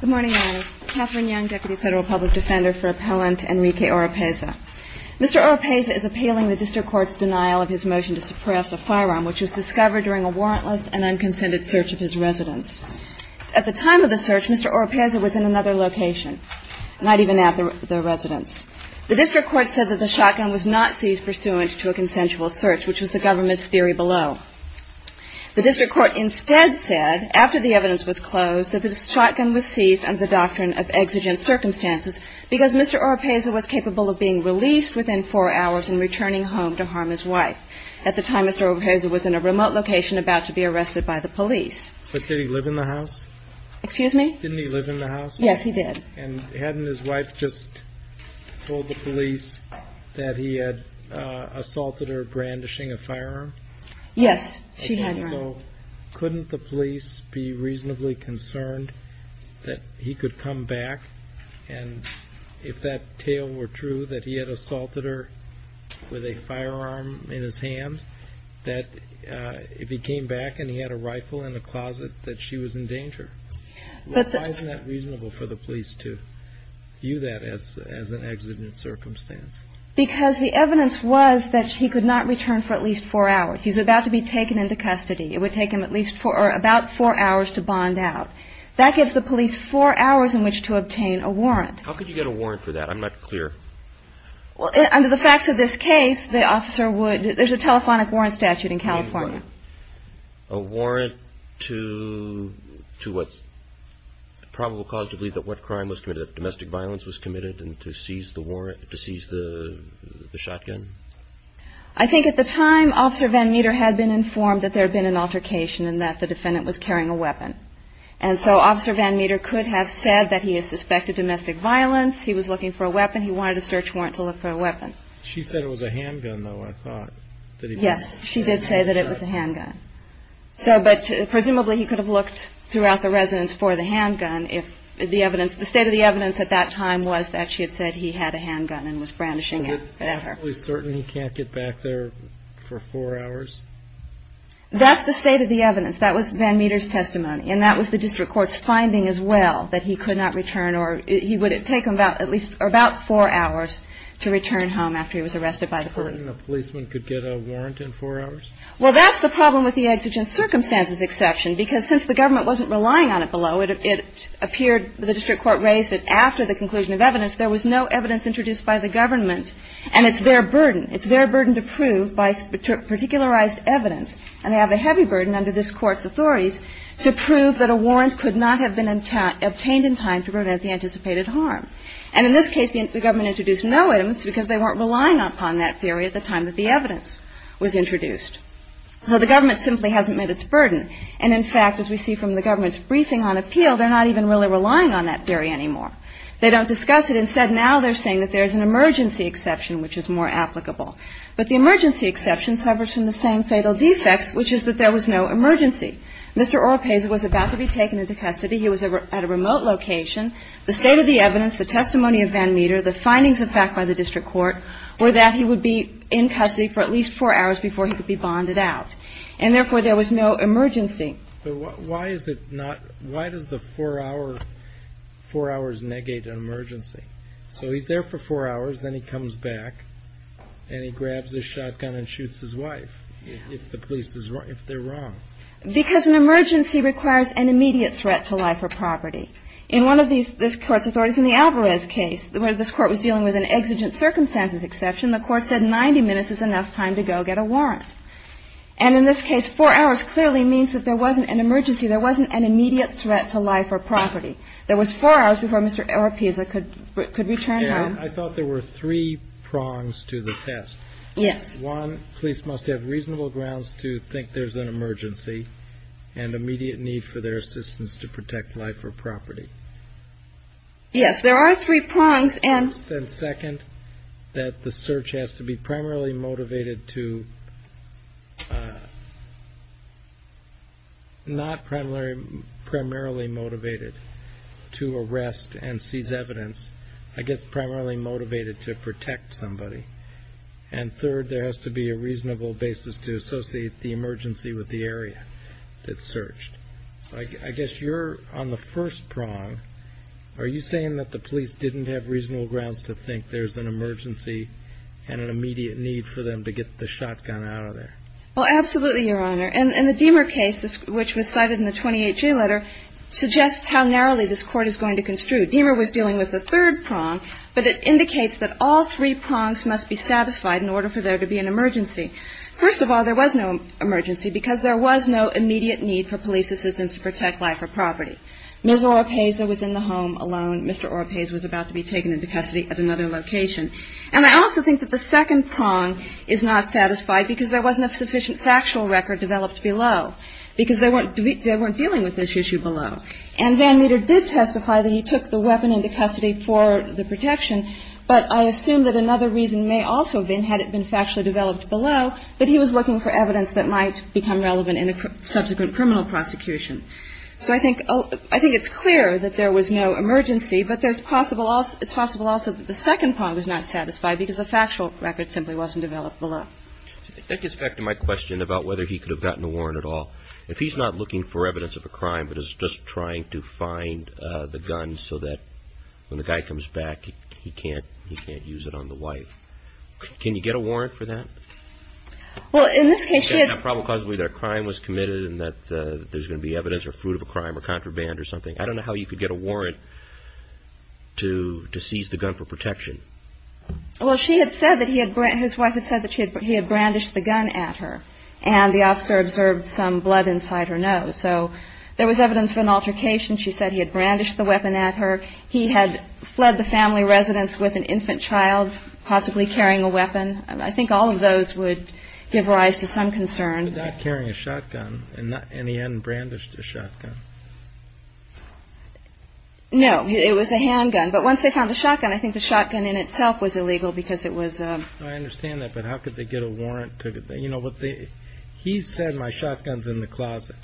Good morning, ladies. Katherine Young, Deputy Federal Public Defender for Appellant Enrique Oropeza. Mr. Oropeza is appealing the District Court's denial of his motion to suppress a firearm which was discovered during a warrantless and unconsented search of his residence. At the time of the search, Mr. Oropeza was in another location, not even at the residence. The District Court said that the shotgun was not seized pursuant to a consensual search, which was the government's theory below. The District Court instead said, after the evidence was closed, that the shotgun was seized under the doctrine of exigent circumstances because Mr. Oropeza was capable of being released within four hours and returning home to harm his wife. At the time, Mr. Oropeza was in a remote location about to be arrested by the police. But did he live in the house? Excuse me? Didn't he live in the house? Yes, he did. And hadn't his wife just told the police that he had assaulted her brandishing a firearm? Yes, she had. So couldn't the police be reasonably concerned that he could come back and, if that tale were true, that he had assaulted her with a firearm in his hand, that if he came back and he had a rifle in the closet, that she was in danger? Why isn't that reasonable for the police to view that as an exigent circumstance? Because the evidence was that he could not return for at least four hours. He was about to be taken into custody. It would take him at least four, or about four hours, to bond out. That gives the police four hours in which to obtain a warrant. How could you get a warrant for that? I'm not clear. Well, under the facts of this case, the officer would, there's a telephonic warrant statute in California. You mean what? A warrant to what's probable cause to believe that what crime was committed, that domestic violence was committed, and to seize the warrant, to seize the shotgun? I think at the time, Officer Van Meter had been informed that there had been an altercation and that the defendant was carrying a weapon. And so Officer Van Meter could have said that he had suspected domestic violence, he was looking for a weapon, he wanted a search warrant to look for a weapon. She said it was a handgun, though, I thought. Yes, she did say that it was a handgun. So, but presumably he could have looked throughout the residence for the handgun if the evidence, the state of the evidence at that time was I'm not absolutely certain he can't get back there for four hours. That's the state of the evidence. That was Van Meter's testimony. And that was the district court's finding as well, that he could not return or he would have taken about at least or about four hours to return home after he was arrested by the police. Is it certain a policeman could get a warrant in four hours? Well, that's the problem with the exigent circumstances exception, because since the government wasn't relying on it below, it appeared, the district court raised it after the conclusion of evidence, there was no evidence introduced by the government and it's their burden. It's their burden to prove by particularized evidence, and they have a heavy burden under this Court's authorities to prove that a warrant could not have been obtained in time to prevent the anticipated harm. And in this case, the government introduced no evidence because they weren't relying upon that theory at the time that the evidence was introduced. So the government simply hasn't met its burden. And in fact, as we see from the government's briefing on appeal, they're not even really relying on that theory anymore. They don't discuss it. Instead, now they're saying that there's an emergency exception, which is more applicable. But the emergency exception suffers from the same fatal defects, which is that there was no emergency. Mr. Oropesa was about to be taken into custody. He was at a remote location. The state of the evidence, the testimony of Van Meter, the findings of fact by the district court were that he would be in custody for at least four hours before he could be bonded out. And therefore, there was no emergency. But why is it not, why does the four hours negate an emergency? So he's there for four hours, then he comes back, and he grabs his shotgun and shoots his wife if the police is, if they're wrong. Because an emergency requires an immediate threat to life or property. In one of these, this court's authorities, in the Alvarez case, where this court was dealing with an exigent circumstances exception, the court said 90 minutes is enough time to go get a warrant. And in this case, four hours clearly means that there wasn't an emergency. There wasn't an immediate threat to life or property. There was four hours before Mr. Oropesa could return home. And I thought there were three prongs to the test. Yes. One, police must have reasonable grounds to think there's an emergency, and immediate need for their assistance to protect life or property. Yes, there are three prongs, and. First and second, that the search has to be primarily motivated to not primarily motivated to arrest and seize evidence. I guess primarily motivated to protect somebody. And third, there has to be a reasonable basis to associate the emergency with the area that's searched. So I guess you're on the first prong. Are you saying that the police didn't have reasonable grounds to think there's an emergency and an immediate need for them to get the shotgun out of there? Well, absolutely, Your Honor. And the Deamer case, which was cited in the 28-G letter, suggests how narrowly this court is going to construe. Deamer was dealing with the third prong, but it indicates that all three prongs must be satisfied in order for there to be an emergency. First of all, there was no emergency because there was no immediate need for police assistance to protect life or property. Ms. Oropesa was in the home alone. Mr. Oropesa was about to be taken into custody at another location. And I also think that the second prong is not satisfied because there wasn't a sufficient factual record developed below, because they weren't dealing with this issue below. And Van Meter did testify that he took the weapon into custody for the protection. But I assume that another reason may also have been, had it been factually developed below, that he was looking for evidence that might become relevant in a subsequent criminal prosecution. So I think it's clear that there was no emergency, but it's possible also that the second prong was not satisfied because the factual record simply wasn't developed below. That gets back to my question about whether he could have gotten a warrant at all. If he's not looking for evidence of a crime, but is just trying to find the gun so that when the guy comes back, he can't use it on the wife, can you get a warrant for that? Well, in this case, he had to be convicted of a crime, and that there's going to be evidence of a crime or contraband or something. I don't know how you could get a warrant to seize the gun for protection. Well, she had said that he had, his wife had said that he had brandished the gun at her, and the officer observed some blood inside her nose. So there was evidence of an altercation. She said he had brandished the weapon at her. He had fled the family residence with an infant child, possibly carrying a weapon. I think all of those would give rise to some concern. He was not carrying a shotgun, and he hadn't brandished a shotgun. No, it was a handgun, but once they found the shotgun, I think the shotgun in itself was illegal because it was a... I understand that, but how could they get a warrant to, you know, he said, my shotgun's in the closet.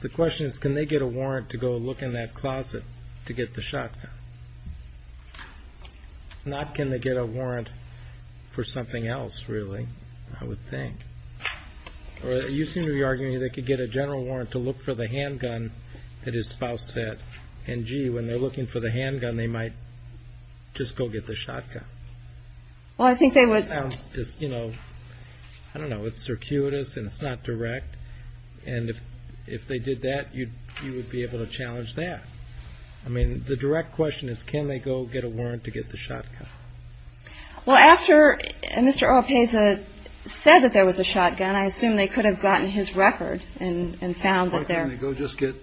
The question is, can they get a warrant to go look in that closet to get the shotgun? Not can they get a warrant for something else, really, I would think. You seem to be arguing that they could get a general warrant to look for the handgun that his spouse said, and gee, when they're looking for the handgun, they might just go get the shotgun. Well, I think they would... It sounds just, you know, I don't know, it's circuitous and it's not direct, and if they did that, you would be able to challenge that. I mean, the direct question is, can they go get a warrant to get the shotgun? Well, after Mr. Oropesa said that there was a shotgun, I assume they could have gotten his record and found that there... Or can they go just get...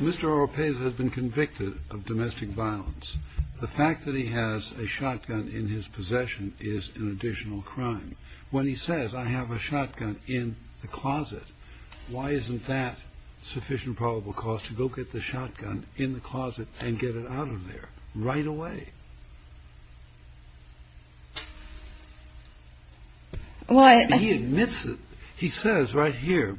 Mr. Oropesa has been convicted of domestic violence. The fact that he has a shotgun in his possession is an additional crime. When he says, I have a shotgun in the closet, why isn't that sufficient probable cause to go get the shotgun in the closet and get it out of there right away? Well, he admits it. He says right here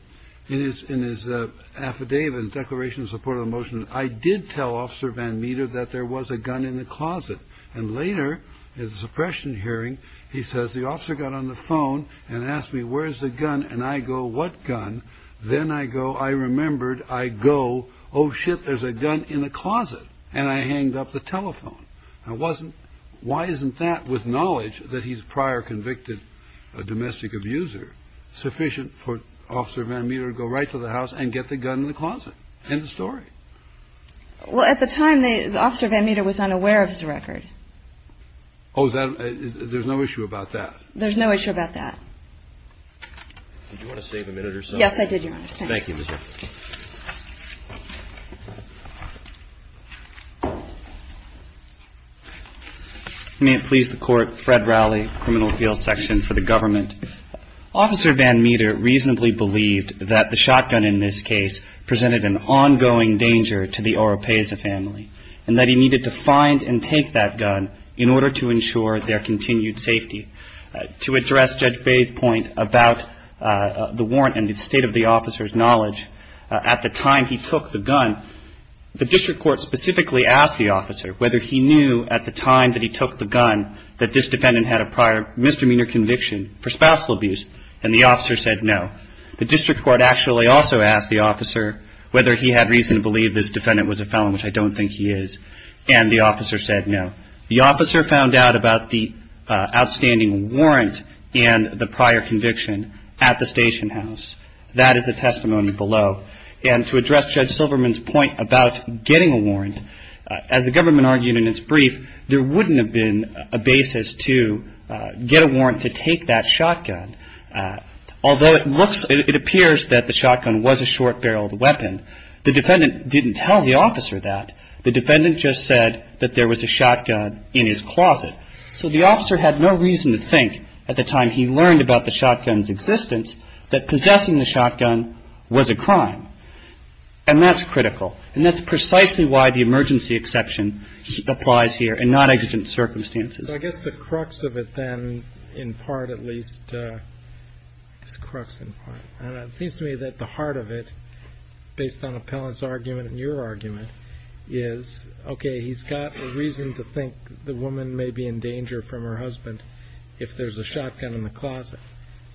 in his affidavit, Declaration of Support of the Motion, I did tell Officer Van Meter that there was a gun in the closet. And later, at a suppression hearing, he says the officer got on the phone and asked me, where's the gun? And I go, what gun? Then I go, I remembered, I go, oh, shit, there's a gun in the closet. And I hanged up the telephone. Now, why isn't that, with knowledge that he's a prior convicted domestic abuser, sufficient for Officer Van Meter to go right to the house and get the gun in the closet? End of story. Well, at the time, Officer Van Meter was unaware of his record. Oh, there's no issue about that? There's no issue about that. Did you want to save a minute or something? Yes, I did, Your Honor. Thank you. May it please the Court, Fred Rowley, Criminal Appeals Section for the Government. Officer Van Meter reasonably believed that the shotgun in this case presented an ongoing danger to the Oropesa family, and that he needed to find and take that gun in order to ensure their continued safety. To address Judge Bathe's point about the warrant and the state of the officer's knowledge, at the time he took the gun, the district court specifically asked the officer whether he knew at the time that he took the gun that this defendant had a prior misdemeanor conviction for spousal abuse, and the officer said no. The district court actually also asked the officer whether he had reason to believe this defendant was a felon, which I don't think he is, and the officer said no. The officer found out about the outstanding warrant and the prior conviction at the station house. That is the testimony below. And to address Judge Silverman's point about getting a warrant, as the government argued in its brief, there wouldn't have been a basis to get a warrant to take that shotgun. Although it looks, it appears that the shotgun was a short-barreled weapon, the defendant didn't tell the officer that. The defendant just said that there was a shotgun in his closet. So the officer had no reason to think at the time he learned about the shotgun's existence that possessing the shotgun was a crime. And that's critical. And that's precisely why the emergency exception applies here in non-aggregate circumstances. So I guess the crux of it then, in part at least, and it seems to me that the heart of it, based on Appellant's argument and your argument, is, okay, he's got a reason to think the woman may be in danger from her husband if there's a shotgun in the closet.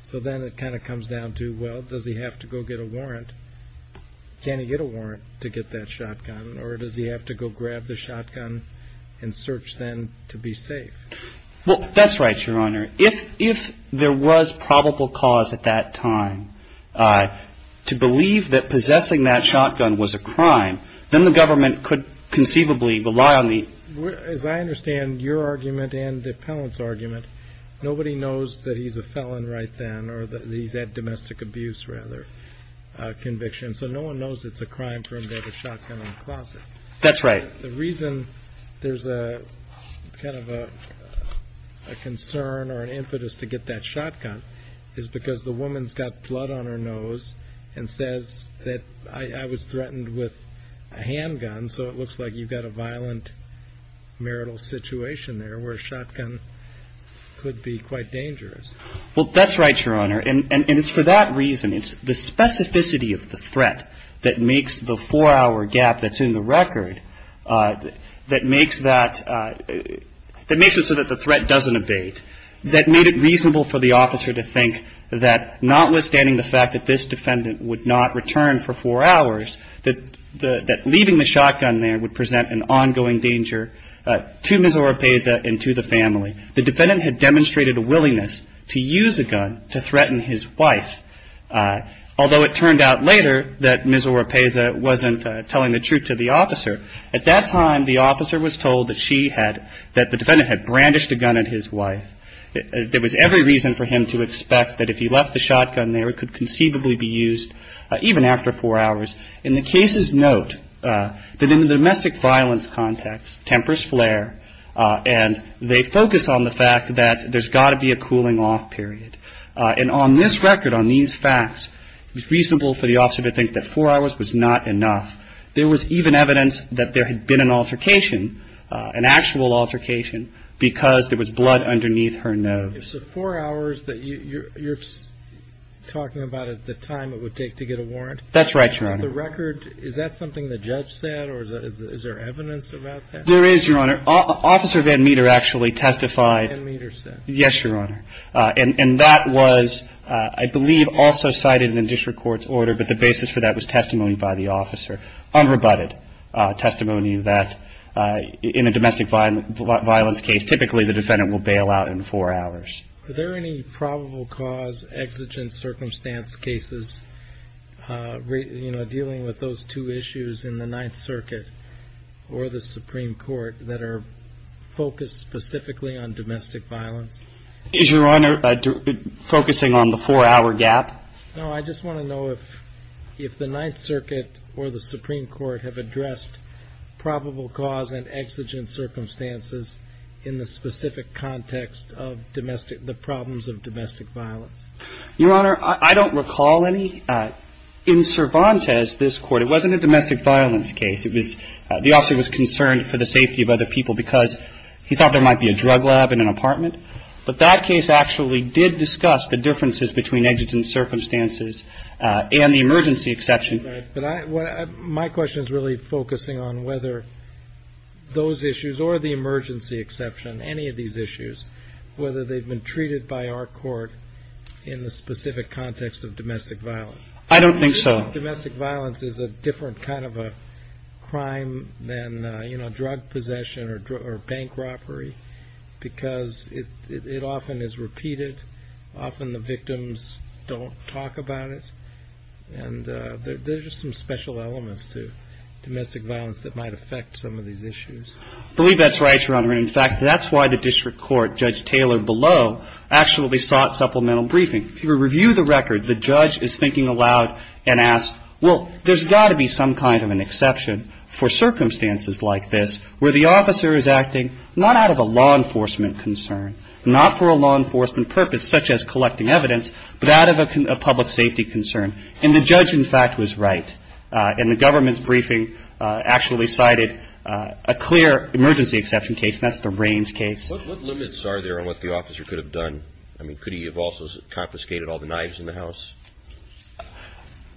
So then it kind of comes down to, well, does he have to go get a warrant? Can he get a warrant to get that shotgun? Or does he have to go grab the shotgun and search then to be safe? Well, that's right, Your Honor. If there was probable cause at that time to believe that possessing that shotgun was a crime, then the government could conceivably rely on the... As I understand your argument and Appellant's argument, nobody knows that he's a felon right then or that he's had domestic abuse rather conviction. So no one knows it's a crime for him to have a shotgun in the closet. That's right. The reason there's a kind of a concern or an impetus to get that shotgun is because the woman's got blood on her nose and says that, I was threatened with a handgun. So it looks like you've got a violent marital situation there where a shotgun could be quite dangerous. Well, that's right, Your Honor. And it's for that reason, it's the specificity of the threat that makes the four hour gap that's in the record, that makes it so that the threat doesn't evade, that made it reasonable for the officer to think that notwithstanding the fact that this defendant would not return for four hours, that leaving the shotgun there would present an ongoing danger to Ms. Oropesa and to the family. The defendant had demonstrated a willingness to use a gun to threaten his wife, although it turned out later that Ms. Oropesa wasn't telling the truth to the officer. At that time, the officer was told that she had, that the defendant had brandished a gun at his wife. There was every reason for him to expect that if he left the shotgun there, it could conceivably be used even after four hours. And the cases note that in the domestic violence context, tempers flare and they focus on the fact that there's got to be a cooling off period. And on this record, on these facts, it's reasonable for the officer to think that four hours was not enough. There was even evidence that there had been an altercation, an actual altercation, because there was blood underneath her nose. So four hours that you're talking about is the time it would take to get a warrant? That's right, Your Honor. Is the record, is that something the judge said or is there evidence about that? There is, Your Honor. Officer Van Meter actually testified. Van Meter said. Yes, Your Honor. And that was, I believe, also cited in the district court's order. But the basis for that was testimony by the officer, unrebutted testimony that in a domestic violence case, typically the defendant will bail out in four hours. Are there any probable cause, exigent circumstance cases, you know, dealing with those two issues in the Ninth Circuit or the Supreme Court that are focused specifically on Is Your Honor focusing on the four hour gap? No, I just want to know if if the Ninth Circuit or the Supreme Court have addressed probable cause and exigent circumstances in the specific context of domestic, the problems of domestic violence. Your Honor, I don't recall any. In Cervantes, this court, it wasn't a domestic violence case. It was the officer was concerned for the safety of other people because he thought there might be a drug lab in an apartment. But that case actually did discuss the differences between exigent circumstances and the emergency exception. But my question is really focusing on whether those issues or the emergency exception, any of these issues, whether they've been treated by our court in the specific context of domestic violence. I don't think so. Domestic violence is a different kind of a crime than, you know, drug possession or bank robbery, because it often is repeated. Often the victims don't talk about it. And there's just some special elements to domestic violence that might affect some of these issues. I believe that's right, Your Honor. In fact, that's why the district court, Judge Taylor below, actually sought supplemental briefing to review the record. The judge is thinking aloud and asked, well, there's got to be some kind of an emergency exception for circumstances like this where the officer is acting not out of a law enforcement concern, not for a law enforcement purpose, such as collecting evidence, but out of a public safety concern. And the judge, in fact, was right. And the government's briefing actually cited a clear emergency exception case. That's the Raines case. What limits are there on what the officer could have done?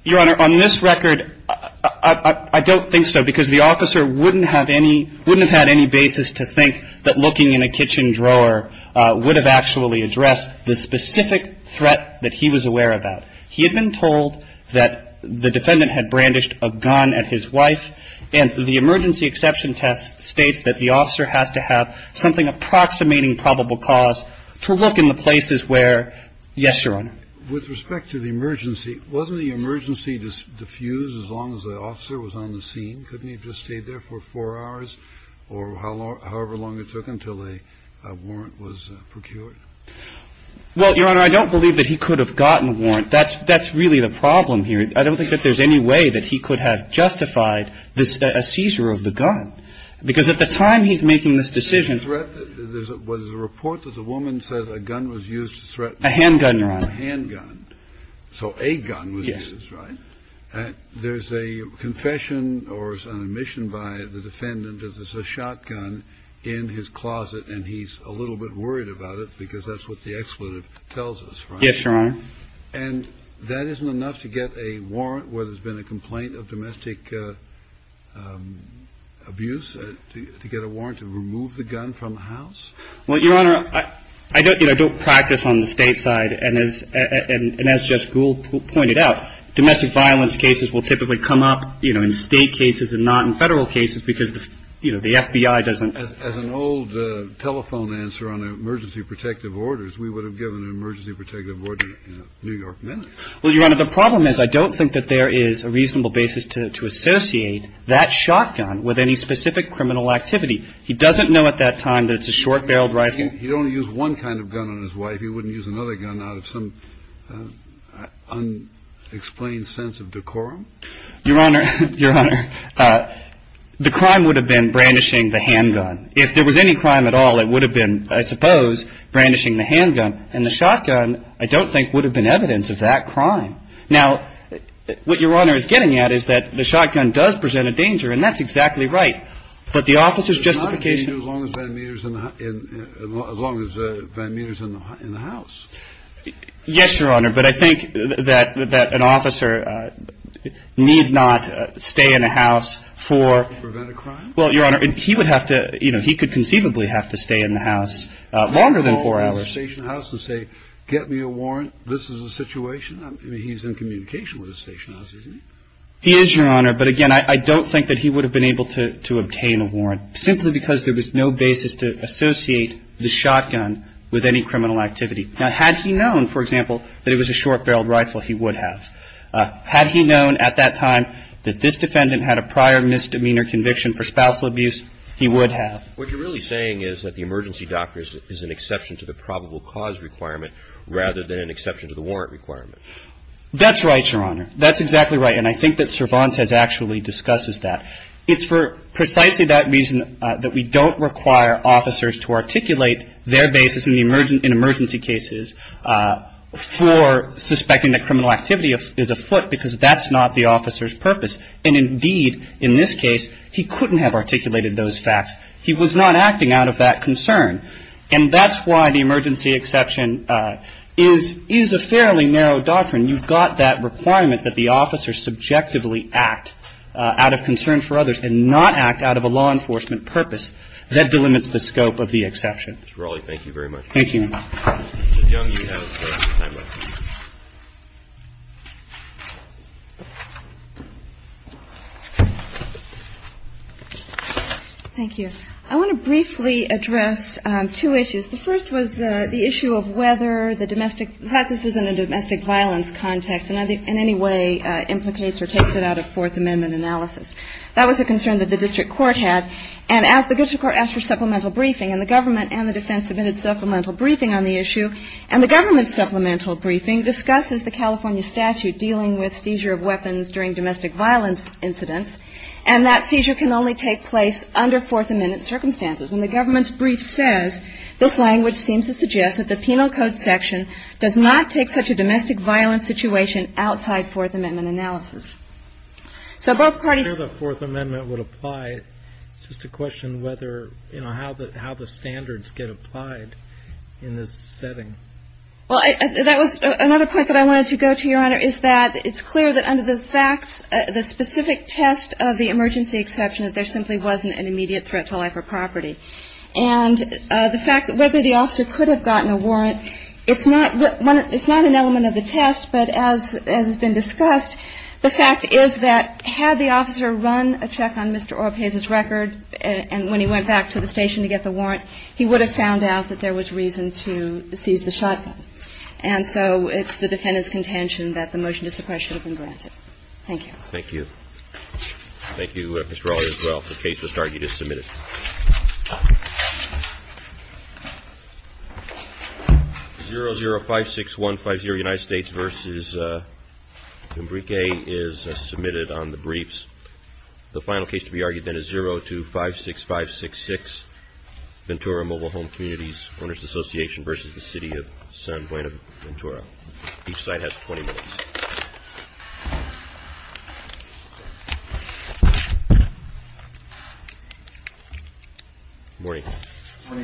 Your Honor, on this record, I don't think so, because the officer wouldn't have any basis to think that looking in a kitchen drawer would have actually addressed the specific threat that he was aware about. He had been told that the defendant had brandished a gun at his wife, and the emergency exception test states that the officer has to have something approximating probable cause to look in the places where, yes, Your Honor? With respect to the emergency, wasn't the emergency diffused as long as the officer was on the scene? Couldn't he have just stayed there for four hours or however long it took until a warrant was procured? Well, Your Honor, I don't believe that he could have gotten a warrant. That's that's really the problem here. I don't think that there's any way that he could have justified a seizure of the gun, because at the time he's making this decision. There was a report that the woman says a gun was used to threaten. A handgun, Your Honor. A handgun. So a gun was used, right? There's a confession or an admission by the defendant that there's a shotgun in his closet, and he's a little bit worried about it because that's what the exclusive tells us, right? Yes, Your Honor. And that isn't enough to get a warrant where there's been a complaint of domestic abuse, to get a warrant to remove the gun from the house? Well, Your Honor, I don't, you know, I don't practice on the state side. And as, and as Judge Gould pointed out, domestic violence cases will typically come up, you know, in state cases and not in federal cases because, you know, the FBI doesn't. As an old telephone answer on emergency protective orders, we would have given an emergency protective order in New York minutes. Well, Your Honor, the problem is I don't think that there is a reasonable basis to associate that shotgun with any specific criminal activity. He doesn't know at that time that it's a short-barreled rifle. He don't use one kind of gun on his wife. He wouldn't use another gun out of some unexplained sense of decorum? Your Honor, Your Honor, the crime would have been brandishing the handgun. If there was any crime at all, it would have been, I suppose, brandishing the handgun. And the shotgun, I don't think, would have been evidence of that crime. Now, what Your Honor is getting at is that the shotgun does present a danger, and that's exactly right. But the officer's justification. It's not a danger as long as Van Meter's in the house. Yes, Your Honor, but I think that an officer need not stay in a house for. To prevent a crime? Well, Your Honor, he would have to, you know, he could conceivably have to stay in the house longer than four hours. Can't he call his station house and say, get me a warrant, this is the situation? I mean, he's in communication with his station house, isn't he? He is, Your Honor. But again, I don't think that he would have been able to obtain a warrant simply because there was no basis to associate the shotgun with any criminal activity. Now, had he known, for example, that it was a short-barreled rifle, he would have. Had he known at that time that this defendant had a prior misdemeanor conviction for spousal abuse, he would have. What you're really saying is that the emergency doctor is an exception to the probable cause requirement rather than an exception to the warrant requirement. That's right, Your Honor. That's exactly right. And I think that Cervantes actually discusses that. It's for precisely that reason that we don't require officers to articulate their basis in emergency cases for suspecting that criminal activity is afoot because that's not the officer's purpose. And indeed, in this case, he couldn't have articulated those facts. He was not acting out of that concern. And that's why the emergency exception is a fairly narrow doctrine. You've got that requirement that the officer subjectively act out of concern for others and not act out of a law enforcement purpose. That delimits the scope of the exception. Mr. Raleigh, thank you very much. Thank you. Ms. Young, you have the last of your time left. Thank you. I want to briefly address two issues. The first was the issue of whether the domestic – perhaps this isn't a domestic violence context and in any way implicates or takes it out of Fourth Amendment analysis. That was a concern that the district court had. And as the district court asked for supplemental briefing, and the government and the defense submitted supplemental briefing on the issue, and the government's supplemental briefing discusses the California statute dealing with seizure of weapons during domestic violence incidents, and that seizure can only take place under Fourth Amendment circumstances. And the government's brief says, this language seems to suggest that the penal code section does not take such a domestic violence situation outside Fourth Amendment analysis. So both parties – I'm not sure that Fourth Amendment would apply. It's just a question whether, you know, how the standards get applied in this setting. Well, that was another point that I wanted to go to, Your Honor, is that it's clear that under the facts, the specific test of the emergency exception, that there simply wasn't an immediate threat to life or property. And the fact that whether the officer could have gotten a warrant, it's not – it's not an element of the test, but as has been discussed, the fact is that had the officer run a check on Mr. Orpez's record, and when he went back to the station to get the warrant, he would have found out that there was reason to seize the shotgun. And so it's the defendant's contention that the motion to suppress should have been granted. Thank you. Thank you. Thank you, Ms. Raleigh, as well, for the case you just submitted. 0056150, United States v. Embrique, is submitted on the briefs. The final case to be argued, then, is 0256566, Ventura Mobile Home Communities Owners Association v. the City of San Buenaventura. Each side has 20 minutes. Good morning.